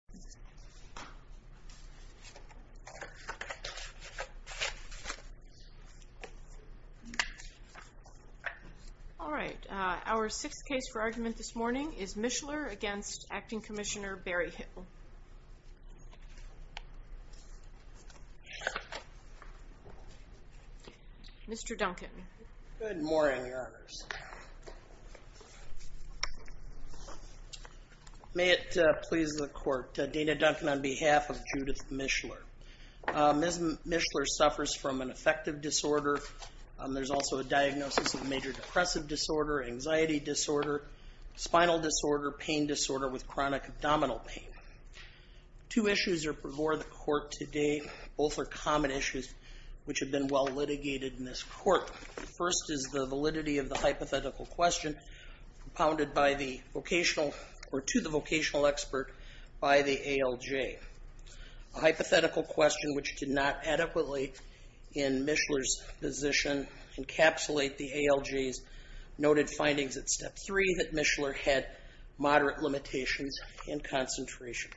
6. Mischler v. Acting Commissioner Berryhill May it please the Court, Dana Duncan on behalf of Judith Mischler. Ms. Mischler suffers from an affective disorder. There's also a diagnosis of major depressive disorder, anxiety disorder, spinal disorder, pain disorder with chronic abdominal pain. Two issues are before the Court today. Both are common issues which have been well litigated in this Court. First is the validity of the hypothetical question propounded by the vocational or to the vocational expert by the ALJ. A hypothetical question which did not adequately in Mischler's position encapsulate the ALJ's noted findings at Step 3 that Mischler had moderate limitations in concentration,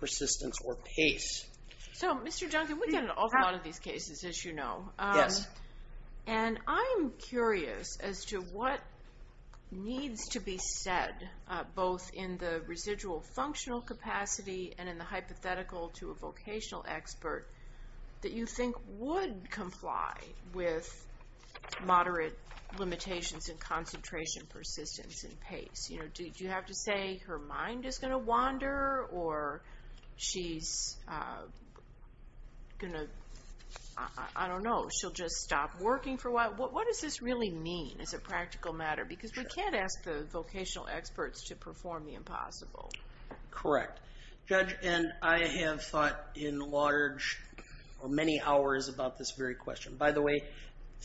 persistence or pace. So Mr. Duncan, we get an awful lot of these cases as you know. Yes. And I'm curious as to what needs to be said both in the residual functional capacity and in the limitations in concentration, persistence and pace. You know, do you have to say her mind is going to wander or she's going to, I don't know, she'll just stop working for a while? What does this really mean as a practical matter? Because we can't ask the vocational experts to perform the impossible. Correct. Judge, and I have thought in large or many hours about this very question. By the way,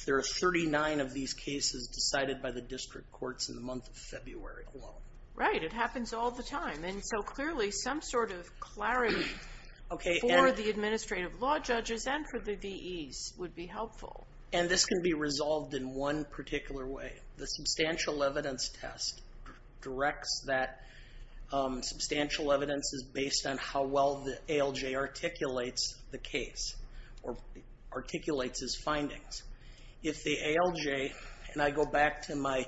there are 39 of these cases decided by the district courts in the month of February alone. Right. It happens all the time. And so clearly some sort of clarity for the administrative law judges and for the VEs would be helpful. And this can be resolved in one particular way. The substantial evidence test directs that substantial evidence is based on how well the ALJ articulates the case or articulates his findings. If the ALJ, and I go back to my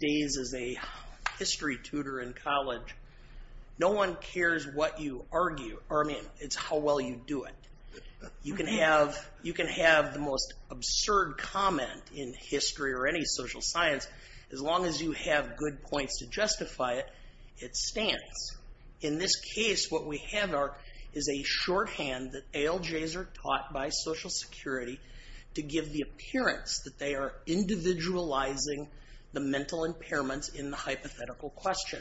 days as a history tutor in college, no one cares what you argue or I mean it's how well you do it. You can have the most absurd comment in history or any social science as long as you have good points to justify it, it stands. In this case, what we have is a shorthand that ALJs are taught by Social Security to give the appearance that they are individualizing the mental impairments in the hypothetical question.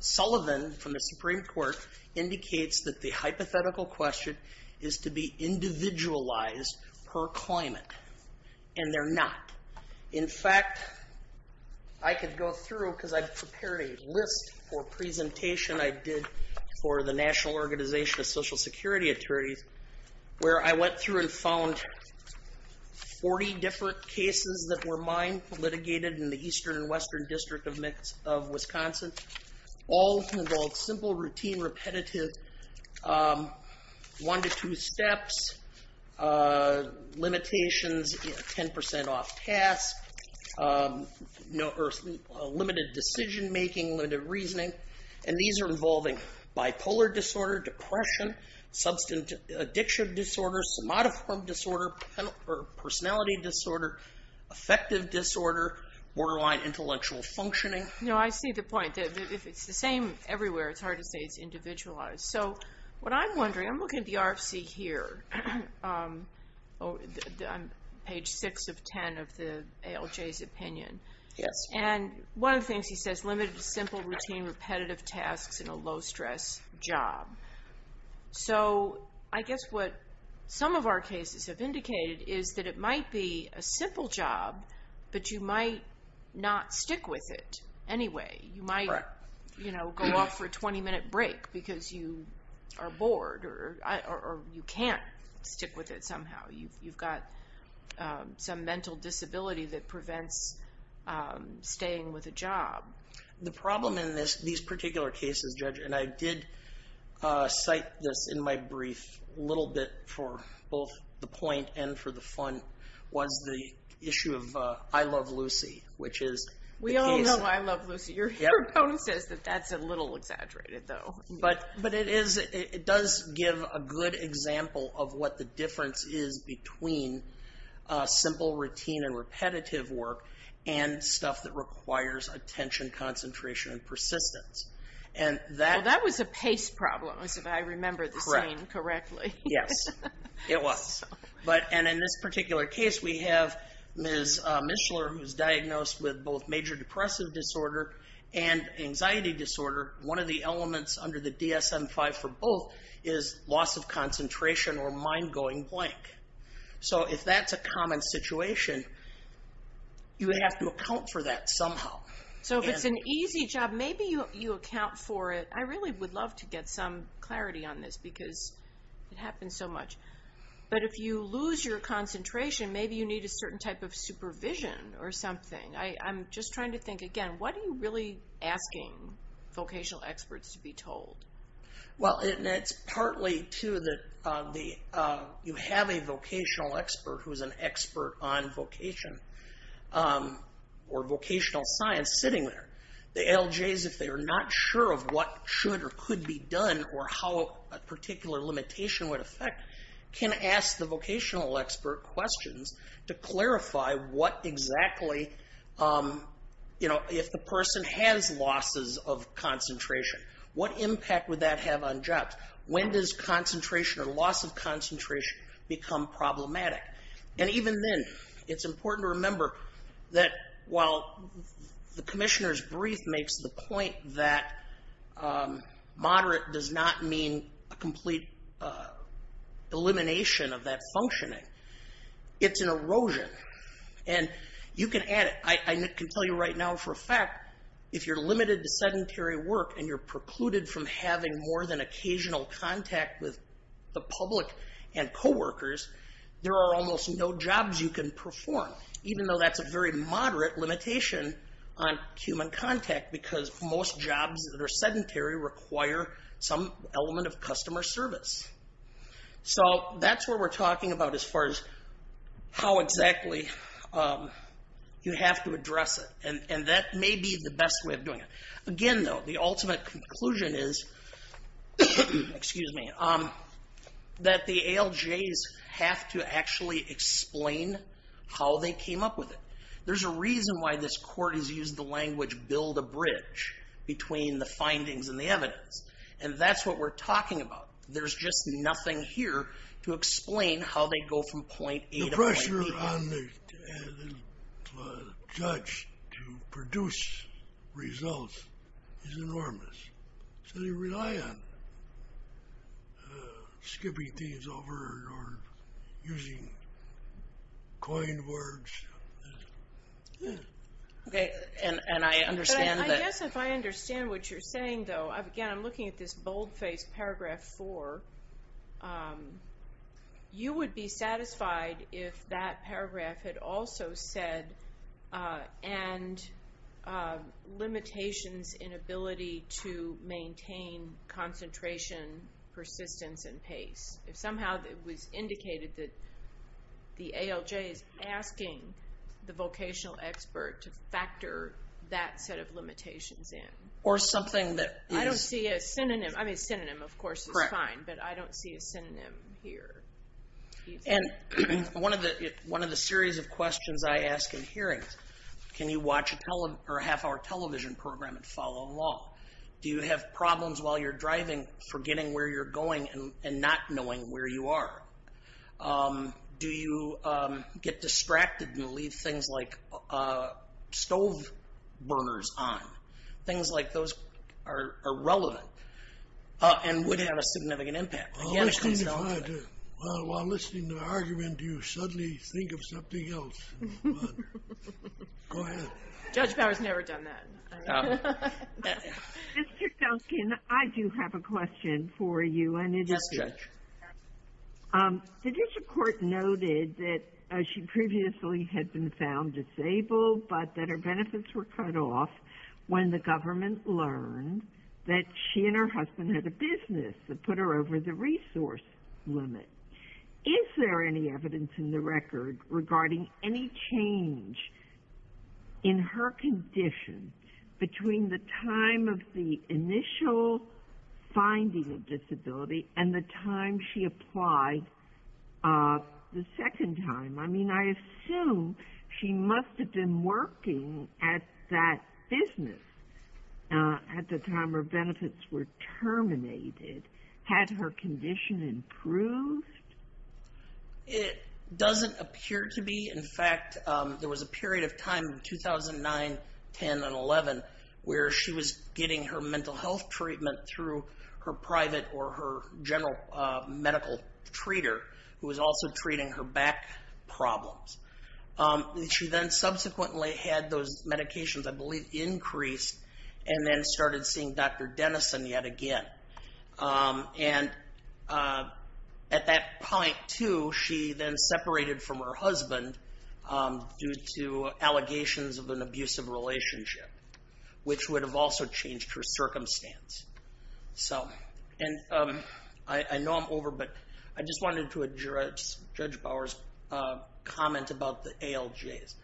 Sullivan from the Supreme Court indicates that the hypothetical question is to be individualized per climate. And they're not. In fact, I could go through because I prepared a list or presentation I did for the National Organization of Social Security Attorneys where I went through and found 40 different cases that were mine, litigated in the Eastern and Western District of Wisconsin. All involved simple, routine, repetitive, one to two steps, limitations, 10% off pass, limited decision making, limited reasoning, and these are involving bipolar disorder, depression, substance addiction disorder, somatoform disorder, personality disorder, affective disorder, borderline intellectual functioning. No, I see the point. If it's the same everywhere, it's hard to say it's individualized. So what I'm opinion. And one of the things he says, limited, simple, routine, repetitive tasks in a low-stress job. So I guess what some of our cases have indicated is that it might be a simple job, but you might not stick with it anyway. You might go off for a 20-minute break because you are bored or you can't stick with it somehow. You've got some mental disability that prevents staying with a job. The problem in these particular cases, Judge, and I did cite this in my brief a little bit for both the point and for the fun, was the issue of I love Lucy, which is- We all know I love Lucy. Your bonus says that that's a little exaggerated though. But it does give a good example of what the difference is between simple, routine, and repetitive work and stuff that requires attention, concentration, and persistence. Well, that was a pace problem, if I remember this name correctly. Yes, it was. And in this particular case, we have Ms. Mishler, who's diagnosed with both major for both is loss of concentration or mind going blank. So if that's a common situation, you have to account for that somehow. So if it's an easy job, maybe you account for it. I really would love to get some clarity on this because it happens so much. But if you lose your concentration, maybe you need a certain type of supervision or something. I'm just trying to think again, what are you really asking vocational experts to be told? Well, it's partly too that you have a vocational expert who's an expert on vocation or vocational science sitting there. The LJs, if they are not sure of what should or could be done or how a particular limitation would affect, can ask the vocational expert questions to clarify what exactly, if the person has losses of concentration, what impact would that have on jobs? When does concentration or loss of concentration become problematic? And even then, it's important to remember that while the commissioner's brief makes the point that moderate does not mean a complete elimination of that functioning, it's an erosion. And you can add it. I can tell you right now for a fact, if you're limited to sedentary work and you're precluded from having more than occasional contact with the public and co-workers, there are almost no jobs you can perform, even though that's a very moderate limitation on human contact because most jobs that are sedentary require some element of customer service. So that's what we're talking about as far as how exactly you have to address it. And that may be the best way of doing it. Again, though, the ultimate conclusion is that the ALJs have to actually explain how they came up with it. There's a reason why this court has used the language build a bridge between the findings and the evidence. And that's what we're talking about. There's just nothing here to explain how they go from point A to point B. The pressure on the judge to produce results is enormous. So they rely on skipping things over or using coined words. Okay. And I understand that... In paragraph four, you would be satisfied if that paragraph had also said, and limitations in ability to maintain concentration, persistence, and pace. If somehow it was indicated that the ALJ is asking the vocational expert to factor that set of limitations in. Or something that... I don't see a synonym. I mean, synonym, of course, is fine, but I don't see a synonym here. And one of the series of questions I ask in hearings, can you watch a half-hour television program and follow along? Do you have problems while you're driving forgetting where you're going and not knowing where you are? Do you get distracted and leave things like stove burners on? Things like those are relevant and would have a significant impact. While listening to the argument, you suddenly think of something else. Go ahead. Judge Bower's never done that. Mr. Duncan, I do have a question for you. Yes, Judge. The judicial court noted that she previously had been found disabled, but that her benefits were cut off when the government learned that she and her husband had a business that put her over the resource limit. Is there any evidence in the record regarding any change in her condition between the time of the initial finding of disability and the time she applied the second time? I mean, I assume she must have been working at that business at the time her benefits were terminated. Had her condition improved? It doesn't appear to be. In fact, there was a period of time in 2009, 10, and 11 where she was getting her mental health treatment through her private or her general medical treater who was also treating her back problems. She then subsequently had those medications, I believe, increased and then started seeing Dr. Denison yet again. And at that point, too, she then separated from her husband due to allegations of an abusive relationship, which would have also changed her circumstance. And I know I'm over, but I just wanted to address Judge Bower's comment about the ALJs.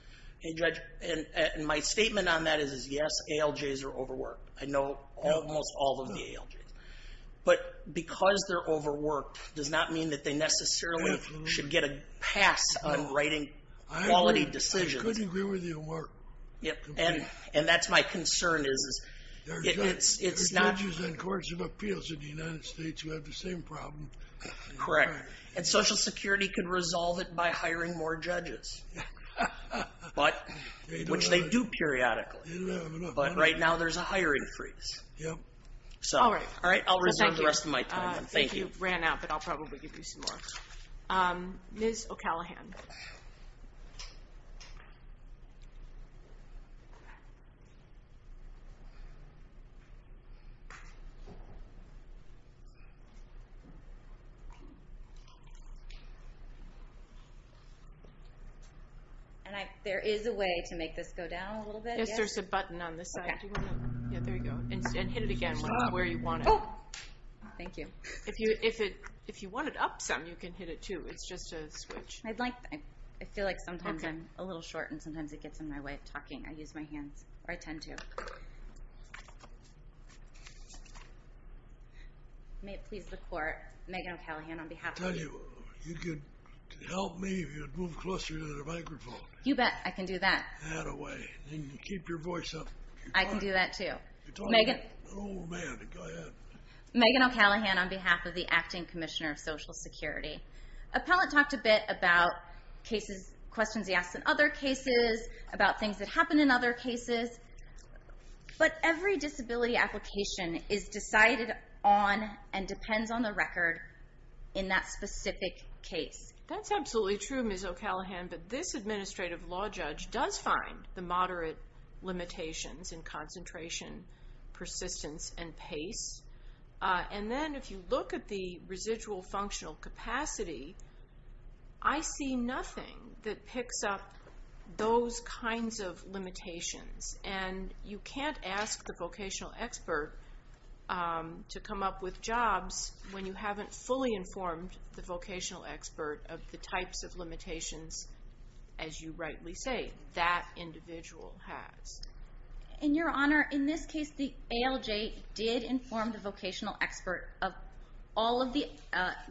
And my statement on that is, yes, ALJs are overworked. I know almost all of the ALJs. But because they're overworked does not mean that they necessarily should get a pass on writing quality decisions. I couldn't agree with you more. And that's my concern is it's not... There are judges and courts of appeals in the United States who have the same problem. Correct. And Social Security could resolve it by hiring more judges, which they do periodically. But right now there's a hiring freeze. Yep. All right. I'll resign the rest of my time. Thank you. You ran out, but I'll probably give you some more. Ms. O'Callaghan. And there is a way to make this go down a little bit. Yes, there's a button on this side. Yeah, there you go. And hit it again where you want it. Oh, thank you. If you want it up some, you can hit it too. It's just a switch. I feel like sometimes I'm a little short, and sometimes it gets in my way of talking. I use my hands, or I tend to. May it please the court, Megan O'Callaghan on behalf of... I tell you, you could help me if you would move closer to the microphone. You bet. I can do that. That a way. And you keep your voice up. I can do that too. Oh, man, go ahead. Megan O'Callaghan on behalf of the Acting Commissioner of Social Security. Appellant talked a bit about questions he asked in other cases, about things that happen in other cases, but every disability application is decided on and depends on the record in that specific case. That's absolutely true, Ms. O'Callaghan, but this administrative law judge does find the moderate limitations in concentration, persistence, and pace. And then if you look at the residual functional capacity, I see nothing that picks up those kinds of limitations. And you can't ask the vocational expert to come up with jobs when you haven't fully informed the vocational expert of the limitations, as you rightly say, that individual has. In your honor, in this case, the ALJ did inform the vocational expert of all of the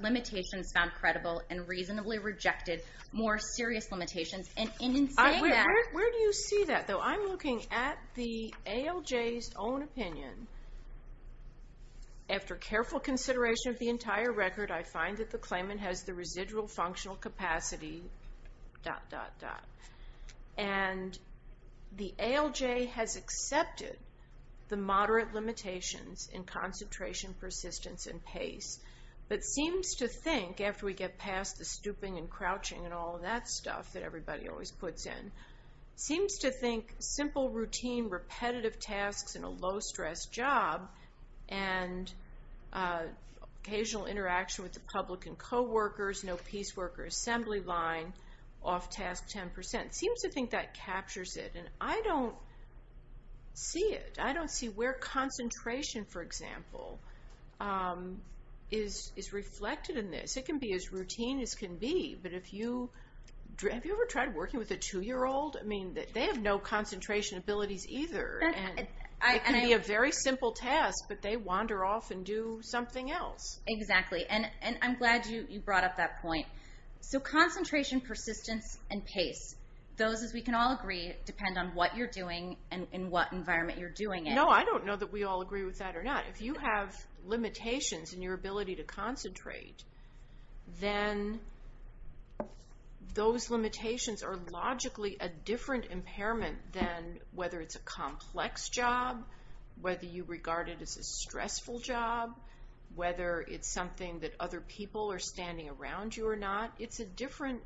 limitations found credible and reasonably rejected more serious limitations. And in saying that... Where do you see that, though? I'm looking at the ALJ's own opinion. After careful consideration of the entire record, I find that the claimant has the residual functional capacity... And the ALJ has accepted the moderate limitations in concentration, persistence, and pace, but seems to think, after we get past the stooping and crouching and all of that stuff that everybody always puts in, seems to think simple, routine, repetitive tasks in a low-stress job and occasional interaction with the public and co-workers, no piecework or assembly line, off-task 10%, seems to think that captures it. And I don't see it. I don't see where concentration, for example, is reflected in this. It can be as routine as can be, but if you... Have you ever tried working with a two-year-old? I mean, they have no concentration abilities either, and it can be a very simple task, but they wander off and do something else. Exactly. And I'm glad you brought up that point. So concentration, persistence, and pace. Those, as we can all agree, depend on what you're doing and in what environment you're doing it. No, I don't know that we all agree with that or not. If you have limitations in your ability to concentrate, then those limitations are logically a different impairment than whether it's a complex job, whether you regard it as a stressful job, whether it's something that other people are standing around you or not. It's a different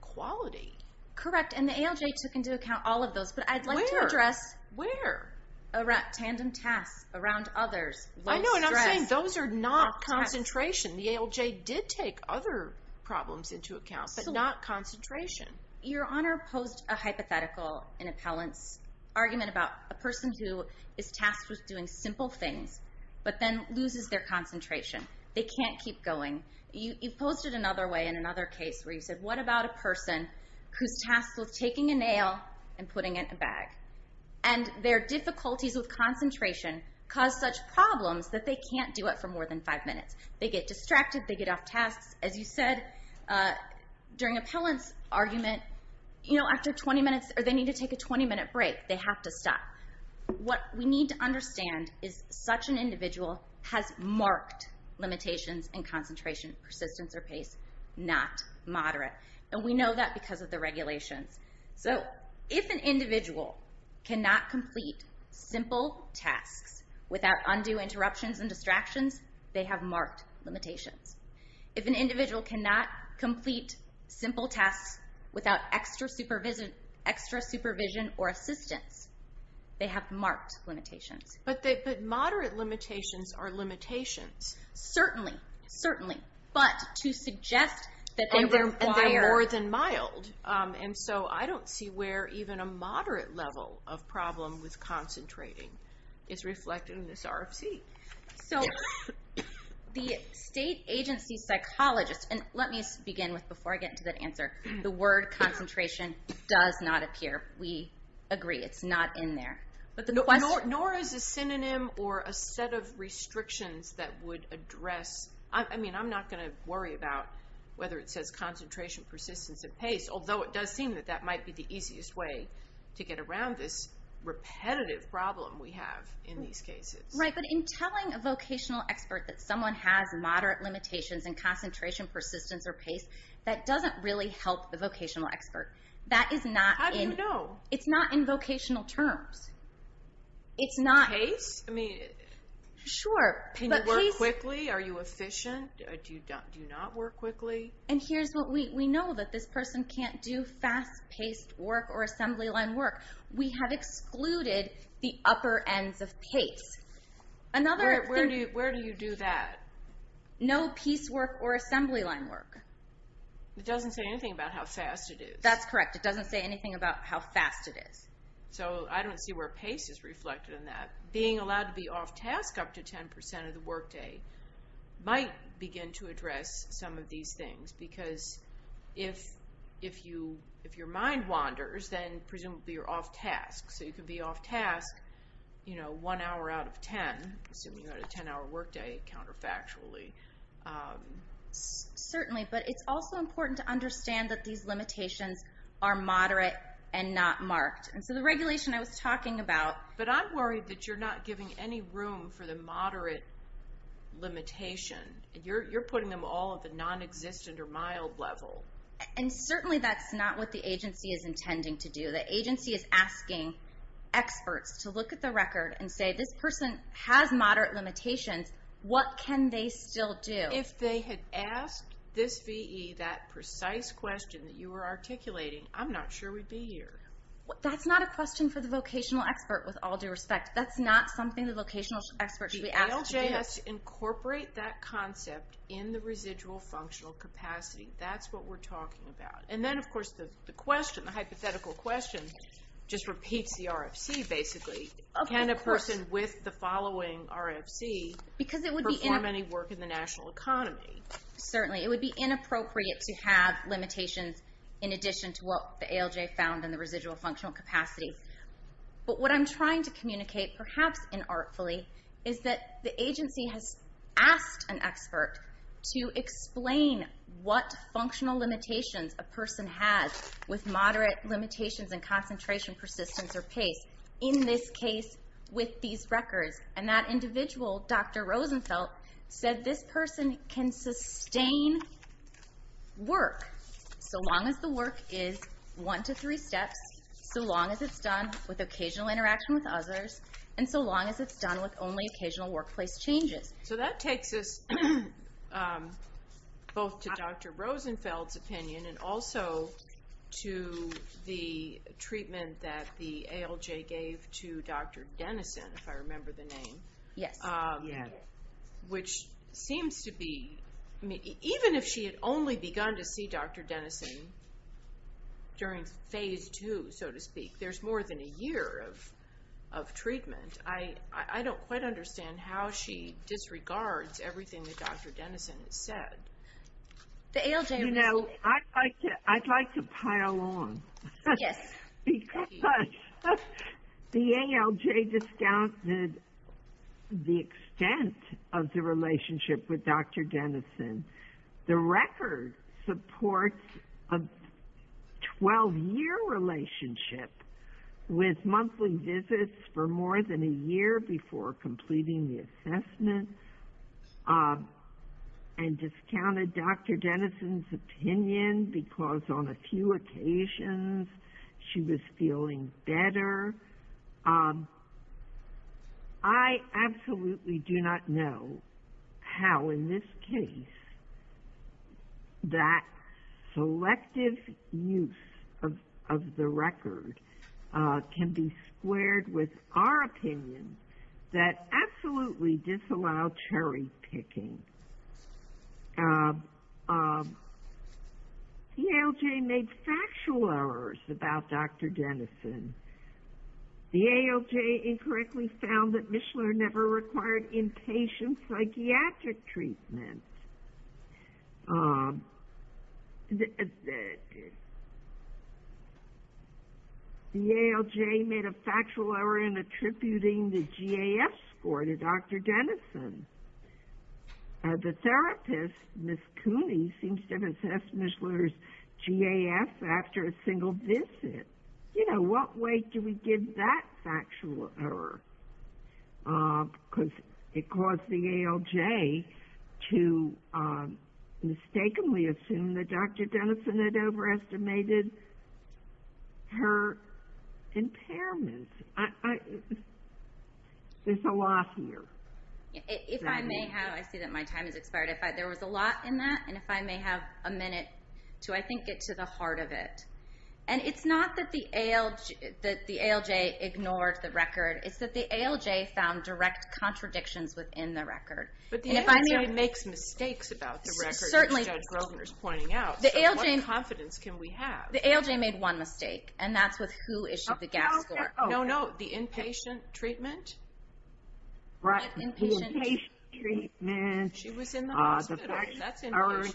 quality. Correct. And the ALJ took into account all of those, but I'd like to address... Where? Where? Around tandem tasks, around others, low stress... I know, and I'm saying those are not concentration. The ALJ did take other problems into account, but not concentration. Your Honor posed a hypothetical in appellant's argument about a person who is tasked with doing simple things, but then loses their concentration. They can't keep going. You've posed it another way in another case where you said, what about a person who's tasked with taking a nail and putting it in a bag? And their difficulties with concentration cause such problems that they can't do it for more than five minutes. They get distracted, they get off tasks. As you said during appellant's argument, after 20 minutes, or they need to take a 20 minute break, they have to stop. What we need to understand is such an individual has marked limitations in concentration, persistence, or pace, not moderate. And we know that because of the regulations. So if an individual cannot complete simple tasks without undue interruptions and distractions, they have marked limitations. If an individual cannot complete simple tasks without extra supervision or assistance, they have marked limitations. But moderate limitations are limitations. Certainly, certainly. But to suggest that they require... And they're more than mild. And so I don't see where even a moderate level of problem with concentrating is reflected in this The state agency psychologist, and let me begin with, before I get into that answer, the word concentration does not appear. We agree. It's not in there. But the question... Nor is a synonym or a set of restrictions that would address... I mean, I'm not going to worry about whether it says concentration, persistence, and pace. Although it does seem that that might be the easiest way to get around this repetitive problem we have in these cases. Right. But in telling a vocational expert that someone has moderate limitations in concentration, persistence, or pace, that doesn't really help the vocational expert. That is not in... How do you know? It's not in vocational terms. It's not... Pace? I mean... Sure. But pace... Can you work quickly? Are you efficient? Do you not work quickly? And here's what we know, that this person can't do fast-paced work or assembly line work. We have excluded the upper ends of pace. Another thing... Where do you do that? No piece work or assembly line work. It doesn't say anything about how fast it is. That's correct. It doesn't say anything about how fast it is. So I don't see where pace is reflected in that. Being allowed to be off task up to 10% of the workday might begin to address some of these things. Because if your mind wanders, then presumably you're off task. So you could be off task one hour out of 10, assuming you had a 10-hour workday, counterfactually. Certainly. But it's also important to understand that these limitations are moderate and not marked. And so the regulation I was talking about... But I'm worried that you're not giving any room for the moderate limitation. You're putting them all at the non-existent or mild level. And certainly that's not what the agency is intending to do. The agency is asking experts to look at the record and say, this person has moderate limitations. What can they still do? If they had asked this VE that precise question that you were articulating, I'm not sure we'd be here. That's not a question for the vocational expert, with all due respect. That's not something the vocational expert should be asked to do. The ALJ has to incorporate that concept in the residual functional capacity. That's what we're talking about. And then, of course, the hypothetical question just repeats the RFC, basically. Can a person with the following RFC perform any work in the national economy? Certainly. It would be inappropriate to have limitations in addition to what the ALJ found in the residual functional capacity. But what I'm trying to communicate, perhaps inartfully, is that the agency has asked an expert to explain what functional limitations a person has with moderate limitations in concentration, persistence, or pace. In this case, with these records. And that individual, Dr. Rosenfeld, said this person can sustain work so long as the work is one to three steps, so long as it's done with occasional interaction with others, and so long as it's done with only occasional workplace changes. So that takes us both to Dr. Rosenfeld's opinion and also to the treatment that the ALJ gave to Dr. Dennison, if I remember the name. Yes. Even if she had only begun to see Dr. Dennison during phase two, so to speak, there's more than a year of treatment. I don't quite understand how she disregards everything that Dr. Dennison has said. You know, I'd like to pile on. Yes. Because the ALJ discounted the extent of the relationship with Dr. Dennison. The record supports a 12-year relationship with monthly visits for more than a year before completing the assessment and discounted Dr. Dennison's opinion because on a few occasions she was feeling better. I absolutely do not know how in this case that selective use of the record can be squared with our opinion that absolutely disallow cherry picking. The ALJ made factual errors about Dr. Dennison. The ALJ incorrectly found that the ALJ made a factual error in attributing the GAF score to Dr. Dennison. The therapist, Ms. Cooney, seems to have assessed Ms. Lutter's GAF after a single visit. You know, what way do we give that factual error? Because it caused the ALJ to mistakenly assume that Dr. Dennison had overestimated her impairments. There's a lot here. If I may have, I see that my time has expired. If I, there was a lot in that and if I may have a minute to, I think, get to the heart of it. And it's not that the ALJ ignored the record. It's that the ALJ found direct contradictions within the record. But the ALJ makes mistakes about the record, as Judge Grosvenor's pointing out, so what confidence can we have? The ALJ made one mistake, and that's with who issued the GAF score. No, no, the inpatient treatment. Right, the inpatient treatment. She was in the hospital. That's inversion.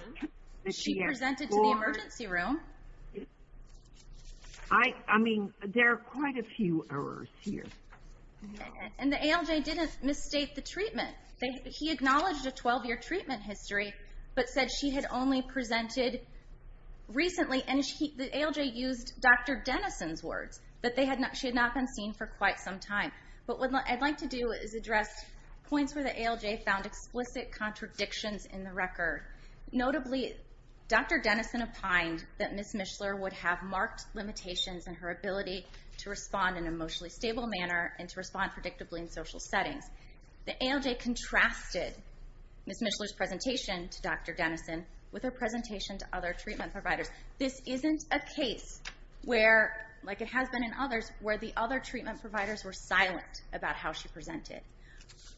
She presented to the emergency room. I mean, there are quite a few errors here. And the ALJ didn't misstate the treatment. He acknowledged a 12-year treatment history, but said she had only presented recently. And the ALJ used Dr. Dennison's words, that she had not been seen for quite some time. But what I'd like to do is address points where the ALJ found explicit contradictions in the record. Notably, Dr. Dennison opined that Ms. Mishler would have marked limitations in her ability to respond in an emotionally stable manner and to respond predictably in social settings. The ALJ contrasted Ms. Mishler's presentation to Dr. Dennison with her presentation to other treatment providers. This isn't a case where, like it has been in others, where the other treatment providers were silent about how she presented.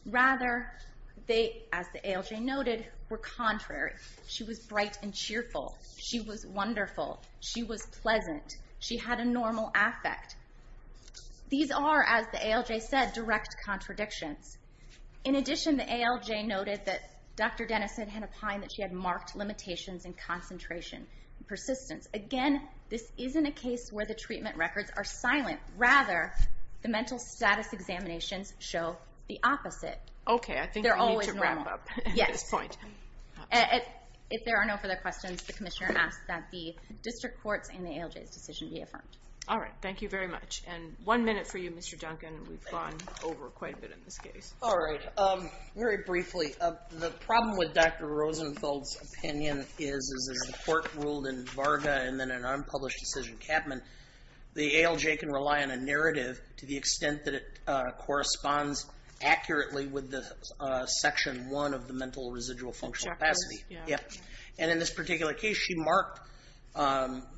Rather, they, as the ALJ noted, were contrary. She was wonderful. She was pleasant. She had a normal affect. These are, as the ALJ said, direct contradictions. In addition, the ALJ noted that Dr. Dennison had opined that she had marked limitations in concentration and persistence. Again, this isn't a case where the treatment records are silent. Rather, the mental status examinations show the opposite. Okay, I think we need to wrap up at this point. Yes. If there are no further questions, the Commissioner asks that the District Courts and the ALJ's decision be affirmed. All right. Thank you very much. And one minute for you, Mr. Duncan. We've gone over quite a bit in this case. All right. Very briefly, the problem with Dr. Rosenfeld's opinion is, is as the Court ruled in Varga and then an unpublished decision, Capman, the ALJ can rely on a narrative to the extent that it corresponds accurately with the Section 1 of the Mental Residual Functional Capacity. Yeah. And in this particular case, she marked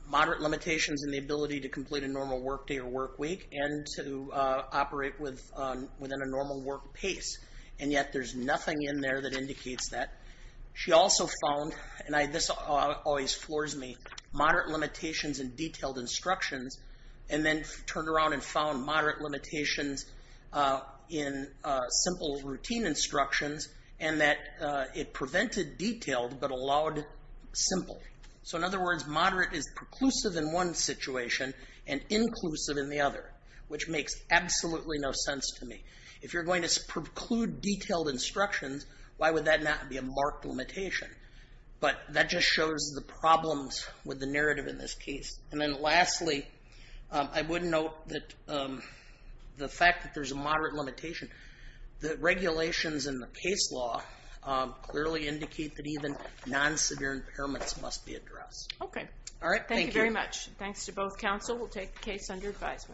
moderate limitations in the ability to complete a normal workday or workweek and to operate within a normal work pace. And yet there's nothing in there that indicates that. She also found, and this always floors me, moderate limitations in detailed instructions and then turned around and found moderate limitations in simple routine instructions and that it prevented detailed but allowed simple. So in other words, moderate is preclusive in one situation and inclusive in the other, which makes absolutely no sense to me. If you're going to preclude detailed instructions, why would that not be a marked limitation? But that just shows the problems with the narrative in this case. And then lastly, I would note that the fact that there's a moderate limitation, the regulations in the case law clearly indicate that even non-severe impairments must be addressed. Okay. All right. Thank you. Thank you very much. Thanks to both counsel. We'll take the case under advisement.